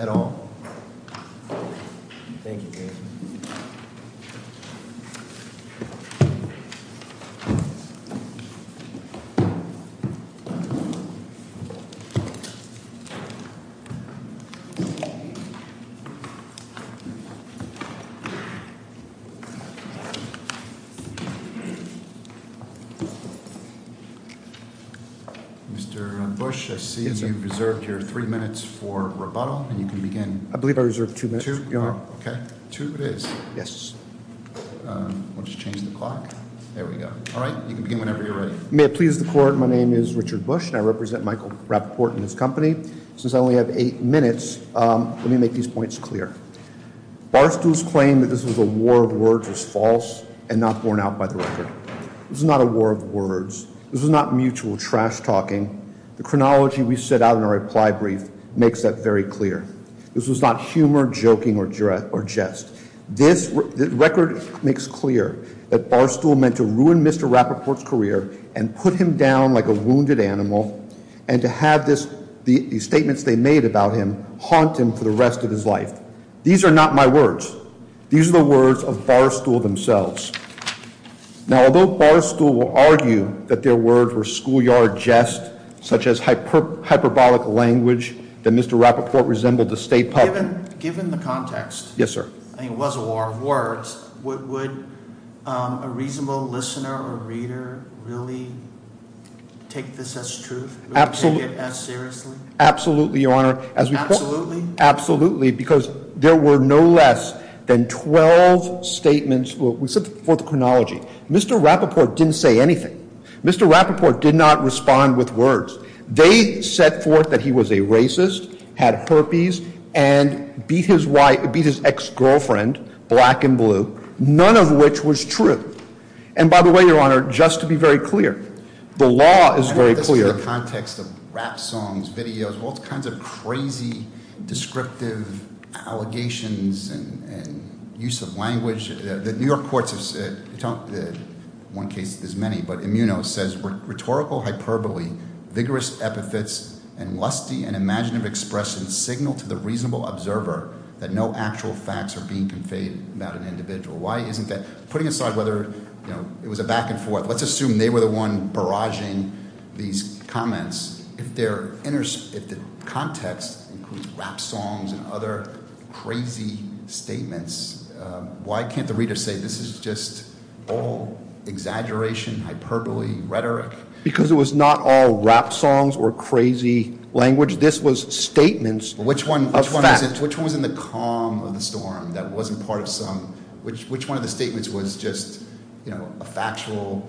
at all. Mr. Bush, I see you've reserved your three minutes for rebuttal, and you can begin. I believe I reserved two minutes, Your Honor. Okay, two it is. Yes. We'll just change the clock. There we go. All right, you can begin whenever you're ready. May it please the Court, my name is Richard Bush, and I represent Michael Rapoport and his company. Since I only have eight minutes, let me make these points clear. Barstool's claim that this was a war of words was false and not borne out by the record. This was not a war of words. This was not mutual trash-talking. The chronology we set out in our reply brief makes that very clear. This was not humor, joking, or jest. This record makes clear that Barstool meant to ruin Mr. Rapoport's career and put him down like a wounded animal and to have the statements they made about him haunt him for the rest of his life. These are not my words. These are the words of Barstool themselves. Now, although Barstool will argue that their words were schoolyard jest, such as hyperbolic language, that Mr. Rapoport resembled the state public. Given the context. Yes, sir. I mean, it was a war of words. Would a reasonable listener or reader really take this as truth? Absolutely. Take it as seriously? Absolutely, Your Honor. Absolutely? Absolutely, because there were no less than 12 statements. We set forth the chronology. Mr. Rapoport didn't say anything. Mr. Rapoport did not respond with words. They set forth that he was a racist, had herpes, and beat his ex-girlfriend black and blue, none of which was true. And by the way, Your Honor, just to be very clear, the law is very clear. In the context of rap songs, videos, all kinds of crazy descriptive allegations and use of language, the New York courts have said, in one case there's many, but Immuno says, rhetorical hyperbole, vigorous epithets, and lusty and imaginative expressions signal to the reasonable observer that no actual facts are being conveyed about an individual. Why isn't that? Putting aside whether it was a back and forth, let's assume they were the one barraging these comments. If the context includes rap songs and other crazy statements, why can't the reader say this is just all exaggeration, hyperbole, rhetoric? Because it was not all rap songs or crazy language. This was statements of facts. Which one was in the calm of the storm that wasn't part of some – which one of the statements was just a factual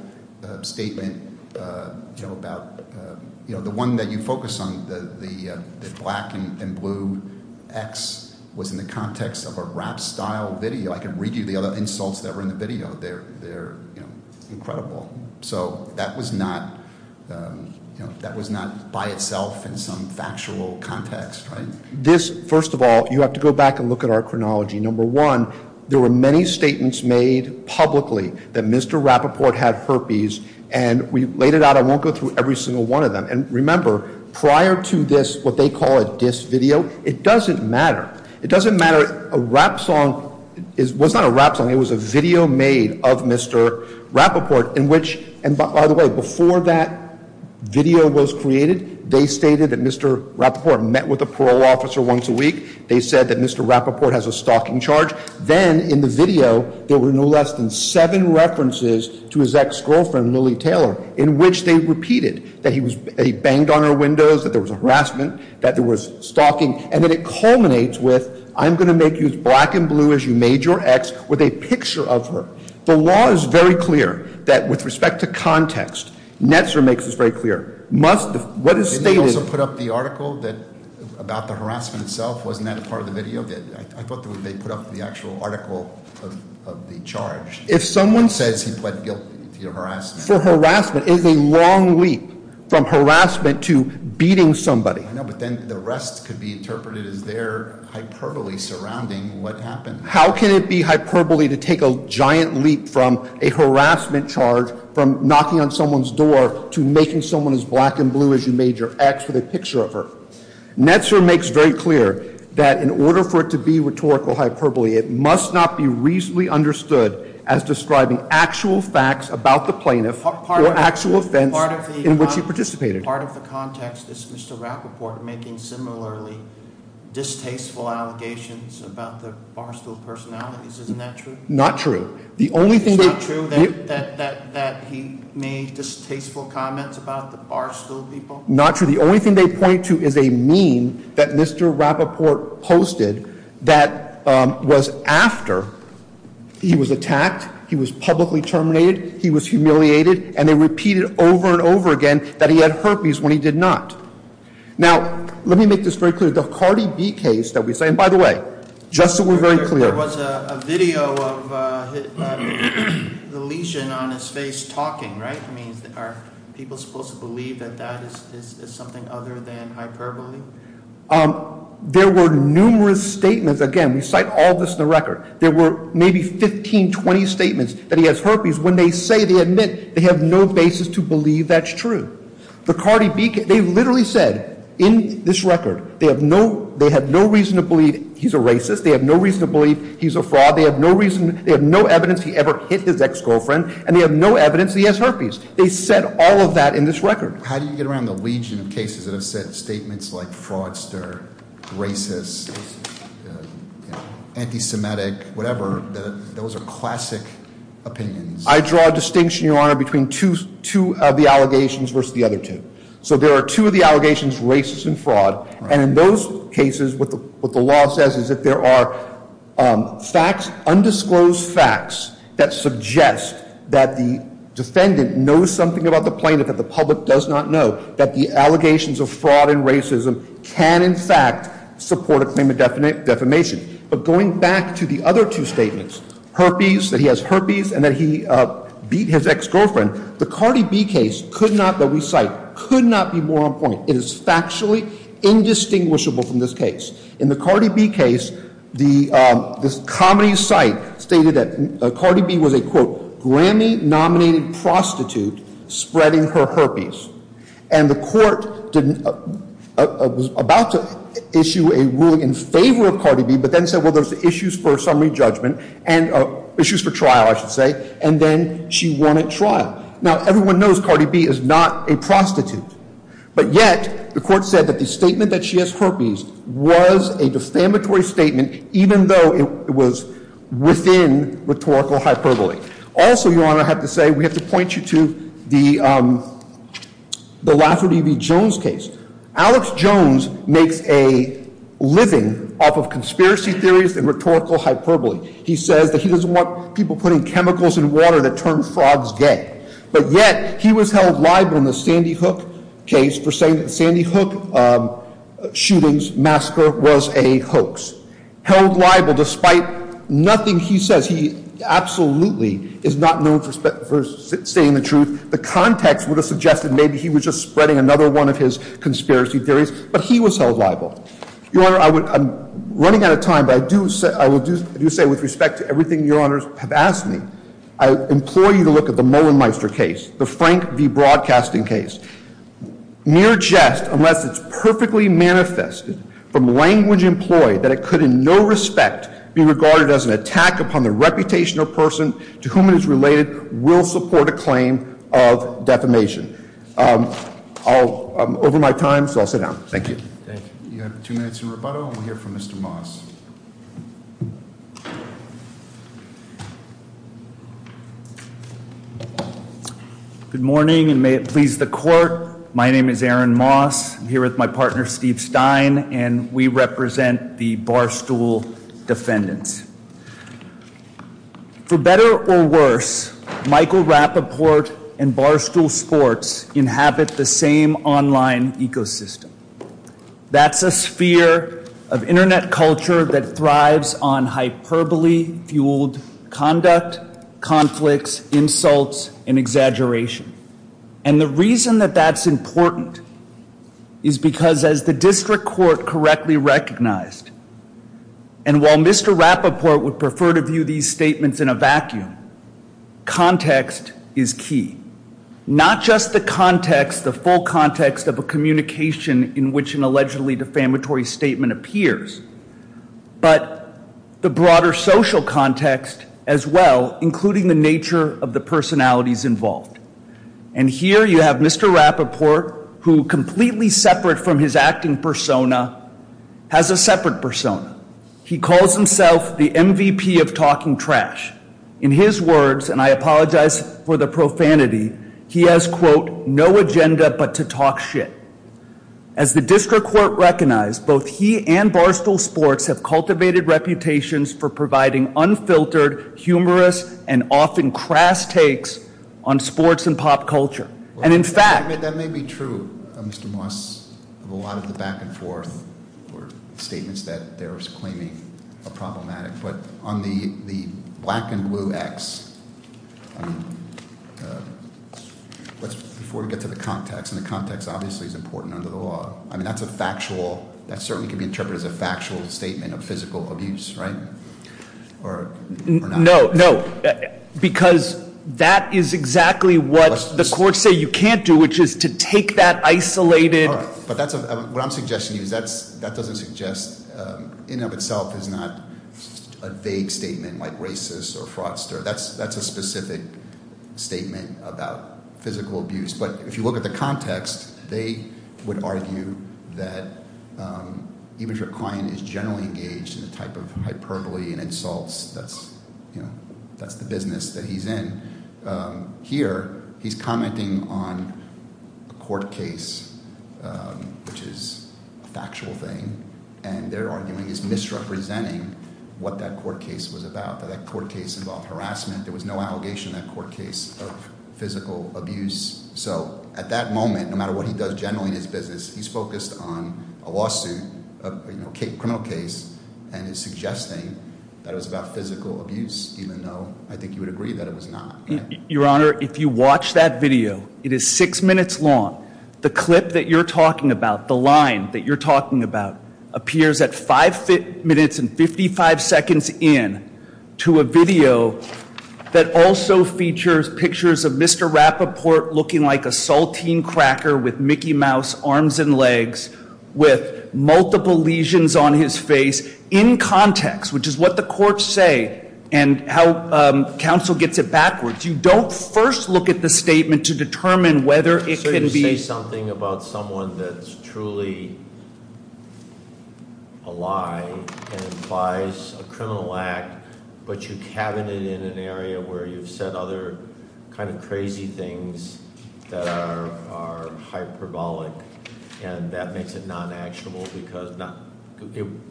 statement about – the one that you focus on, the black and blue ex, was in the context of a rap-style video. I can read you the other insults that were in the video. They're incredible. So that was not by itself in some factual context. This, first of all, you have to go back and look at our chronology. Number one, there were many statements made publicly that Mr. Rappaport had herpes, and we laid it out. I won't go through every single one of them. And remember, prior to this, what they call a diss video, it doesn't matter. It doesn't matter. A rap song was not a rap song. It was a video made of Mr. Rappaport in which – and by the way, before that video was created, they stated that Mr. Rappaport met with a parole officer once a week. They said that Mr. Rappaport has a stalking charge. Then in the video, there were no less than seven references to his ex-girlfriend, Lily Taylor, in which they repeated that he banged on her windows, that there was harassment, that there was stalking. And then it culminates with, I'm going to make you as black and blue as you made your ex with a picture of her. The law is very clear that, with respect to context, Netzer makes this very clear. Didn't they also put up the article about the harassment itself? Wasn't that part of the video? I thought they put up the actual article of the charge. If someone says he pled guilty to harassment. For harassment, it is a long leap from harassment to beating somebody. I know, but then the rest could be interpreted as their hyperbole surrounding what happened. How can it be hyperbole to take a giant leap from a harassment charge, from knocking on someone's door to making someone as black and blue as you made your ex with a picture of her? Netzer makes very clear that in order for it to be rhetorical hyperbole, it must not be reasonably understood as describing actual facts about the plaintiff or actual offense in which he participated. Part of the context is Mr. Rappaport making similarly distasteful allegations about the Barstool personalities. Isn't that true? Not true. It's not true that he made distasteful comments about the Barstool people? Not true. The only thing they point to is a meme that Mr. Rappaport posted that was after he was attacked, he was publicly terminated, he was humiliated, and they repeated over and over again that he had herpes when he did not. Now, let me make this very clear. The Cardi B case that we say, and by the way, just so we're very clear. There was a video of the lesion on his face talking, right? I mean, are people supposed to believe that that is something other than hyperbole? There were numerous statements. Again, we cite all this in the record. There were maybe 15, 20 statements that he has herpes when they say they admit they have no basis to believe that's true. The Cardi B case, they literally said in this record they have no reason to believe he's a racist. They have no reason to believe he's a fraud. They have no evidence he ever hit his ex-girlfriend, and they have no evidence he has herpes. They said all of that in this record. How do you get around the legion of cases that have said statements like fraudster, racist, anti-Semitic, whatever? Those are classic opinions. I draw a distinction, Your Honor, between two of the allegations versus the other two. So there are two of the allegations, racist and fraud. And in those cases, what the law says is that there are facts, undisclosed facts, that suggest that the defendant knows something about the plaintiff that the public does not know, that the allegations of fraud and racism can, in fact, support a claim of defamation. But going back to the other two statements, herpes, that he has herpes, and that he beat his ex-girlfriend, the Cardi B case could not, that we cite, could not be more on point. It is factually indistinguishable from this case. In the Cardi B case, this comedy site stated that Cardi B was a, quote, Grammy-nominated prostitute spreading her herpes. And the court didn't, was about to issue a ruling in favor of Cardi B, but then said, well, there's issues for summary judgment and issues for trial, I should say. And then she won at trial. Now, everyone knows Cardi B is not a prostitute. But yet, the court said that the statement that she has herpes was a defamatory statement, even though it was within rhetorical hyperbole. Also, Your Honor, I have to say, we have to point you to the Lafferty v. Jones case. Alex Jones makes a living off of conspiracy theories and rhetorical hyperbole. He says that he doesn't want people putting chemicals in water that turn frogs gay. But yet, he was held liable in the Sandy Hook case for saying that the Sandy Hook shootings massacre was a hoax. Held liable despite nothing he says. He absolutely is not known for stating the truth. The context would have suggested maybe he was just spreading another one of his conspiracy theories. But he was held liable. Your Honor, I'm running out of time, but I do say with respect to everything Your Honors have asked me, I implore you to look at the Mollenmeister case, the Frank v. Broadcasting case. Near jest, unless it's perfectly manifested from language employed, that it could in no respect be regarded as an attack upon the reputation of a person to whom it is related, will support a claim of defamation. I'm over my time, so I'll sit down. Thank you. Thank you. You have two minutes in rebuttal, and we'll hear from Mr. Moss. Good morning, and may it please the court. My name is Aaron Moss. I'm here with my partner Steve Stein, and we represent the Barstool defendants. For better or worse, Michael Rappaport and Barstool Sports inhabit the same online ecosystem. That's a sphere of internet culture that thrives on hyperbole-fueled conduct, conflicts, insults, and exaggeration. And the reason that that's important is because as the district court correctly recognized, and while Mr. Rappaport would prefer to view these statements in a vacuum, context is key. Not just the context, the full context of a communication in which an allegedly defamatory statement appears, but the broader social context as well, including the nature of the personalities involved. And here you have Mr. Rappaport, who completely separate from his acting persona, has a separate persona. He calls himself the MVP of talking trash. In his words, and I apologize for the profanity, he has, quote, no agenda but to talk shit. As the district court recognized, both he and Barstool Sports have cultivated reputations for providing unfiltered, humorous, and often crass takes on sports and pop culture. And in fact- That may be true, Mr. Moss, of a lot of the back and forth statements that there is claiming are problematic. But on the black and blue X, before we get to the context, and the context obviously is important under the law, I mean that's a factual, that certainly can be interpreted as a factual statement of physical abuse, right? Or not? No, no, because that is exactly what the courts say you can't do, which is to take that isolated- All right, but what I'm suggesting to you is that doesn't suggest, in and of itself, is not a vague statement like racist or fraudster. That's a specific statement about physical abuse. But if you look at the context, they would argue that even if a client is generally engaged in a type of hyperbole and insults, that's the business that he's in. Here, he's commenting on a court case, which is a factual thing, and they're arguing it's misrepresenting what that court case was about. That that court case involved harassment. There was no allegation in that court case of physical abuse. So at that moment, no matter what he does generally in his business, he's focused on a lawsuit, a criminal case, and is suggesting that it was about physical abuse, even though I think you would agree that it was not. Your Honor, if you watch that video, it is six minutes long. The clip that you're talking about, the line that you're talking about, appears at five minutes and 55 seconds in to a video that also features pictures of Mr. Rappaport looking like a saltine cracker with Mickey Mouse arms and legs, with multiple lesions on his face, in context, which is what the courts say and how counsel gets it backwards. You don't first look at the statement to determine whether it can be- So you say something about someone that's truly a lie and implies a criminal act, but you cabinet in an area where you've said other kind of crazy things that are hyperbolic, and that makes it non-actionable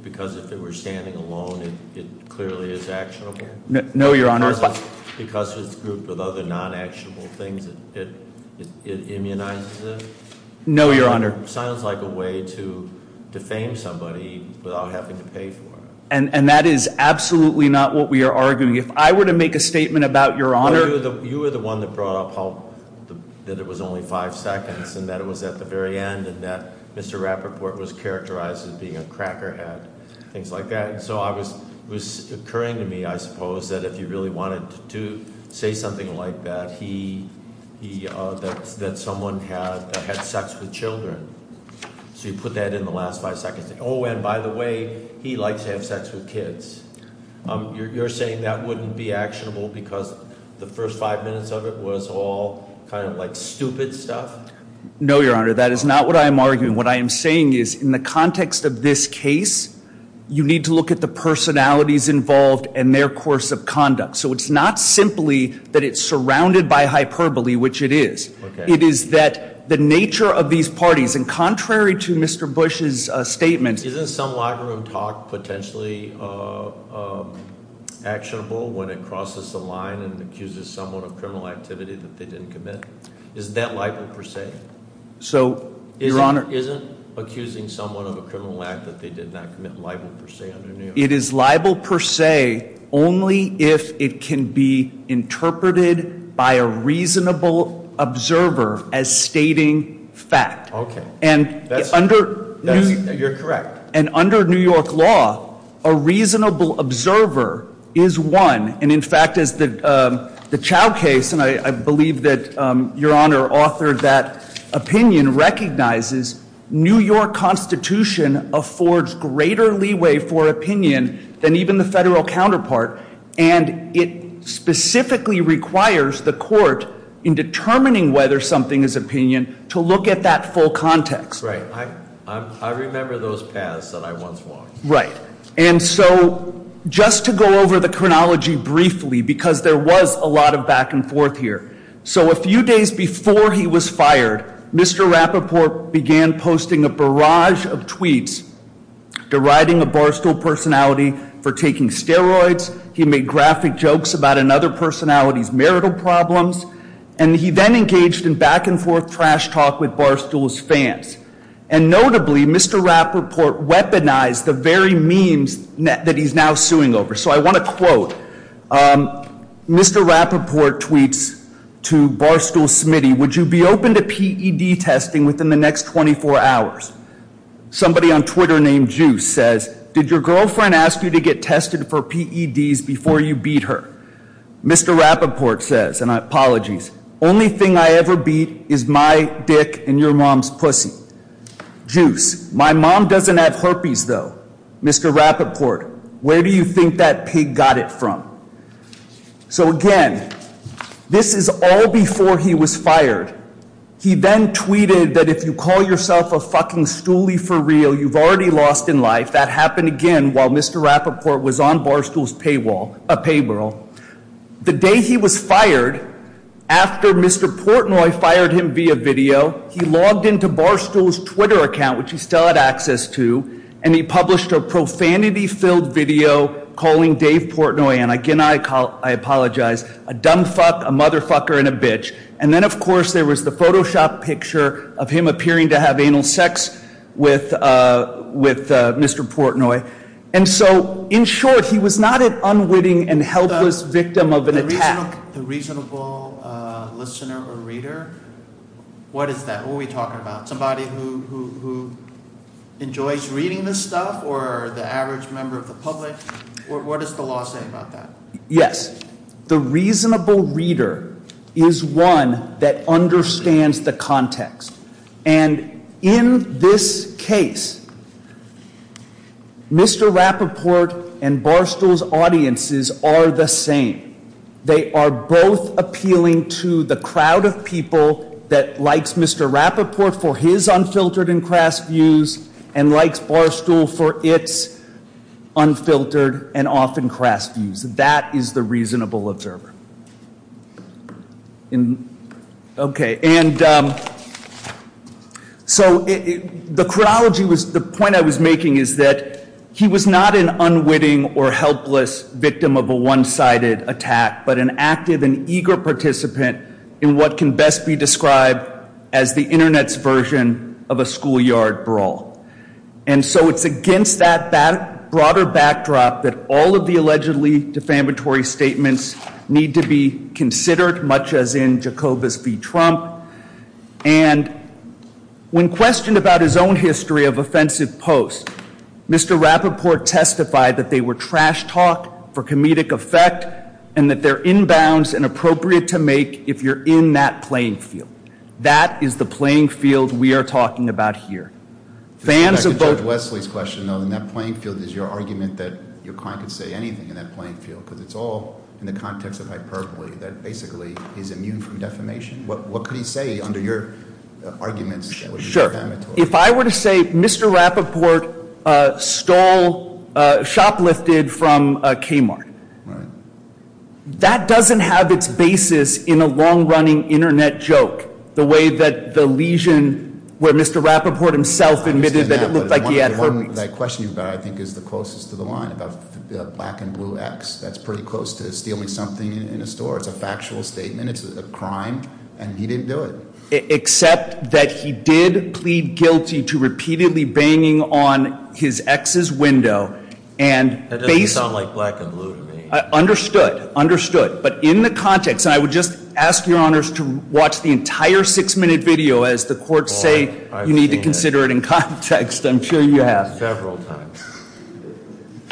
because if they were standing alone, it clearly is actionable? No, Your Honor. Because it's grouped with other non-actionable things, it immunizes it? No, Your Honor. Sounds like a way to defame somebody without having to pay for it. And that is absolutely not what we are arguing. If I were to make a statement about, Your Honor- Well, you were the one that brought up that it was only five seconds, and that it was at the very end, and that Mr. Rappaport was characterized as being a crackerhead, things like that. And so it was occurring to me, I suppose, that if you really wanted to say something like that, that someone had sex with children, so you put that in the last five seconds. And by the way, he likes to have sex with kids. You're saying that wouldn't be actionable because the first five minutes of it was all kind of like stupid stuff? No, Your Honor, that is not what I am arguing. What I am saying is, in the context of this case, you need to look at the personalities involved and their course of conduct. So it's not simply that it's surrounded by hyperbole, which it is. It is that the nature of these parties, and contrary to Mr. Bush's statement- Isn't some locker room talk potentially actionable when it crosses the line and accuses someone of criminal activity that they didn't commit? Isn't that likely, per se? So, Your Honor- Isn't accusing someone of a criminal act that they did not commit liable, per se, under New York law? It is liable, per se, only if it can be interpreted by a reasonable observer as stating fact. Okay. And under- You're correct. And under New York law, a reasonable observer is one. And in fact, as the Chow case, and I believe that Your Honor authored that opinion, recognizes New York Constitution affords greater leeway for opinion than even the federal counterpart. And it specifically requires the court, in determining whether something is opinion, to look at that full context. Right. I remember those paths that I once walked. Right. And so, just to go over the chronology briefly, because there was a lot of back and forth here. So, a few days before he was fired, Mr. Rappaport began posting a barrage of tweets deriding a Barstool personality for taking steroids. He made graphic jokes about another personality's marital problems. And he then engaged in back and forth trash talk with Barstool's fans. And notably, Mr. Rappaport weaponized the very memes that he's now suing over. So, I want to quote. Mr. Rappaport tweets to Barstool's Smitty, would you be open to PED testing within the next 24 hours? Somebody on Twitter named Juice says, did your girlfriend ask you to get tested for PEDs before you beat her? Mr. Rappaport says, and apologies, only thing I ever beat is my dick and your mom's pussy. Juice, my mom doesn't have herpes though. Mr. Rappaport, where do you think that pig got it from? So, again, this is all before he was fired. He then tweeted that if you call yourself a fucking stoolie for real, you've already lost in life. That happened again while Mr. Rappaport was on Barstool's payroll. The day he was fired, after Mr. Portnoy fired him via video, he logged into Barstool's Twitter account, which he still had access to, and he published a profanity-filled video calling Dave Portnoy, and again I apologize, a dumb fuck, a motherfucker, and a bitch. And then, of course, there was the Photoshop picture of him appearing to have anal sex with Mr. Portnoy. And so, in short, he was not an unwitting and helpless victim of an attack. The reasonable listener or reader, what is that? Who are we talking about? Somebody who enjoys reading this stuff or the average member of the public? What does the law say about that? Yes, the reasonable reader is one that understands the context. And in this case, Mr. Rappaport and Barstool's audiences are the same. They are both appealing to the crowd of people that likes Mr. Rappaport for his unfiltered and crass views and likes Barstool for its unfiltered and often crass views. That is the reasonable observer. Okay, and so the point I was making is that he was not an unwitting or helpless victim of a one-sided attack, but an active and eager participant in what can best be described as the Internet's version of a schoolyard brawl. And so it's against that broader backdrop that all of the allegedly defamatory statements need to be considered, much as in Jacobus v. Trump. And when questioned about his own history of offensive posts, Mr. Rappaport testified that they were trash talk for comedic effect and that they're inbounds and appropriate to make if you're in that playing field. That is the playing field we are talking about here. Fans of both- To go back to Judge Wesley's question, though, in that playing field is your argument that your client could say anything in that playing field, because it's all in the context of hyperbole, that basically he's immune from defamation. What could he say under your arguments that would be defamatory? Sure. If I were to say Mr. Rappaport stole, shoplifted from Kmart. Right. That doesn't have its basis in a long-running Internet joke, the way that the lesion where Mr. Rappaport himself admitted that it looked like he had herpes. The one that I question you about, I think, is the closest to the line about the black and blue ex. That's pretty close to stealing something in a store. It's a factual statement. It's a crime. And he didn't do it. Except that he did plead guilty to repeatedly banging on his ex's window and- That doesn't sound like black and blue to me. Understood. Understood. But in the context, and I would just ask your honors to watch the entire six-minute video as the courts say you need to consider it in context. I'm sure you have. Several times.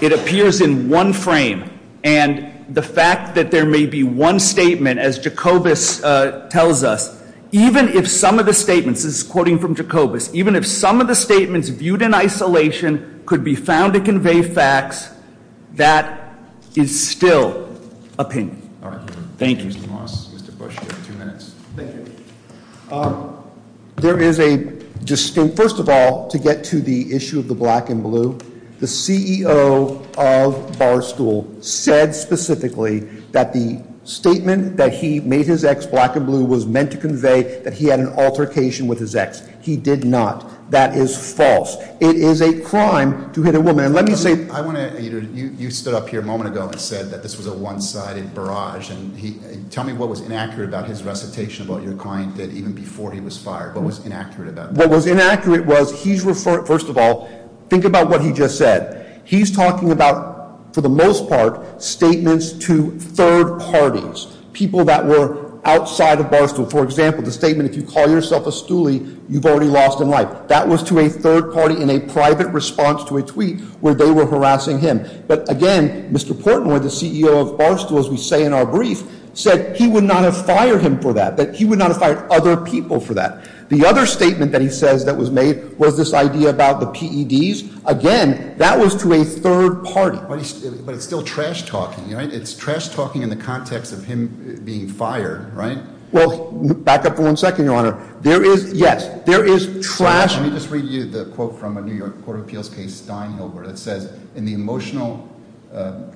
It appears in one frame. And the fact that there may be one statement, as Jacobus tells us, even if some of the statements, this is quoting from Jacobus, even if some of the statements viewed in isolation could be found to convey facts, that is still opinion. All right. Thank you. Mr. Moss, Mr. Bush, you have two minutes. Thank you. There is a distinct, first of all, to get to the issue of the black and blue, the CEO of Barstool said specifically that the statement that he made his ex black and blue was meant to convey that he had an altercation with his ex. He did not. That is false. It is a crime to hit a woman. And let me say- I want to, you stood up here a moment ago and said that this was a one-sided barrage. Tell me what was inaccurate about his recitation of what your client did even before he was fired. What was inaccurate about that? What was inaccurate was he's referring, first of all, think about what he just said. He's talking about, for the most part, statements to third parties, people that were outside of Barstool. For example, the statement, if you call yourself a stoolie, you've already lost a life. That was to a third party in a private response to a tweet where they were harassing him. But, again, Mr. Portnoy, the CEO of Barstool, as we say in our brief, said he would not have fired him for that, that he would not have fired other people for that. The other statement that he says that was made was this idea about the PEDs. Again, that was to a third party. But it's still trash talking, right? It's trash talking in the context of him being fired, right? Well, back up for one second, Your Honor. There is, yes, there is trash- Let me just read you the quote from a New York Court of Appeals case, Steinhofer, that says, In the emotional,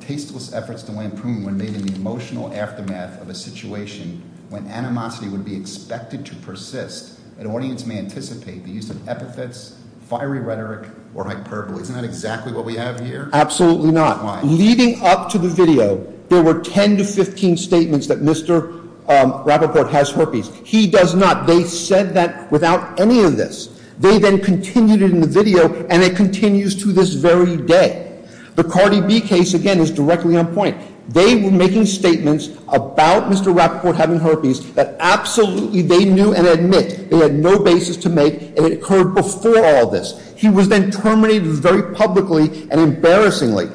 tasteless efforts to lampoon when made in the emotional aftermath of a situation when animosity would be expected to persist, an audience may anticipate the use of epithets, fiery rhetoric, or hyperbole. Isn't that exactly what we have here? Absolutely not. Why? Leading up to the video, there were 10 to 15 statements that Mr. Rappaport has herpes. He does not. They said that without any of this. They then continued it in the video, and it continues to this very day. The Cardi B case, again, is directly on point. They were making statements about Mr. Rappaport having herpes that absolutely they knew and admit. They had no basis to make, and it occurred before all this. He was then terminated very publicly and embarrassingly.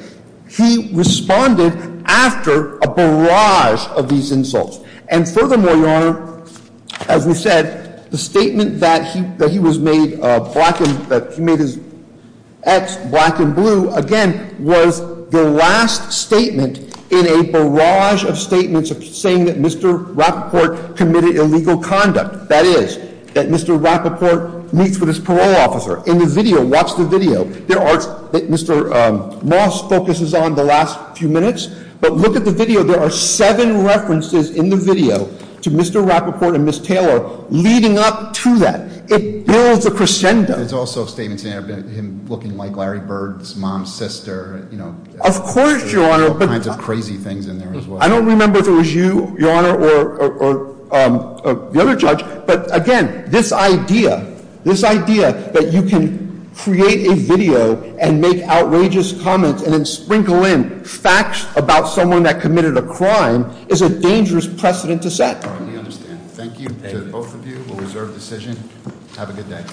He responded after a barrage of these insults. And furthermore, Your Honor, as we said, the statement that he was made black and that he made his ex black and blue, again, was the last statement in a barrage of statements saying that Mr. Rappaport committed illegal conduct. That is, that Mr. Rappaport meets with his parole officer. In the video, watch the video. There are, Mr. Moss focuses on the last few minutes, but look at the video. There are seven references in the video to Mr. Rappaport and Ms. Taylor leading up to that. It builds a crescendo. There's also statements in there about him looking like Larry Bird's mom's sister. Of course, Your Honor. There's all kinds of crazy things in there as well. I don't remember if it was you, Your Honor, or the other judge. But again, this idea, this idea that you can create a video and make outrageous comments and then sprinkle in facts about someone that committed a crime is a dangerous precedent to set. All right, we understand. Thank you to both of you. We'll reserve decision. Have a good day.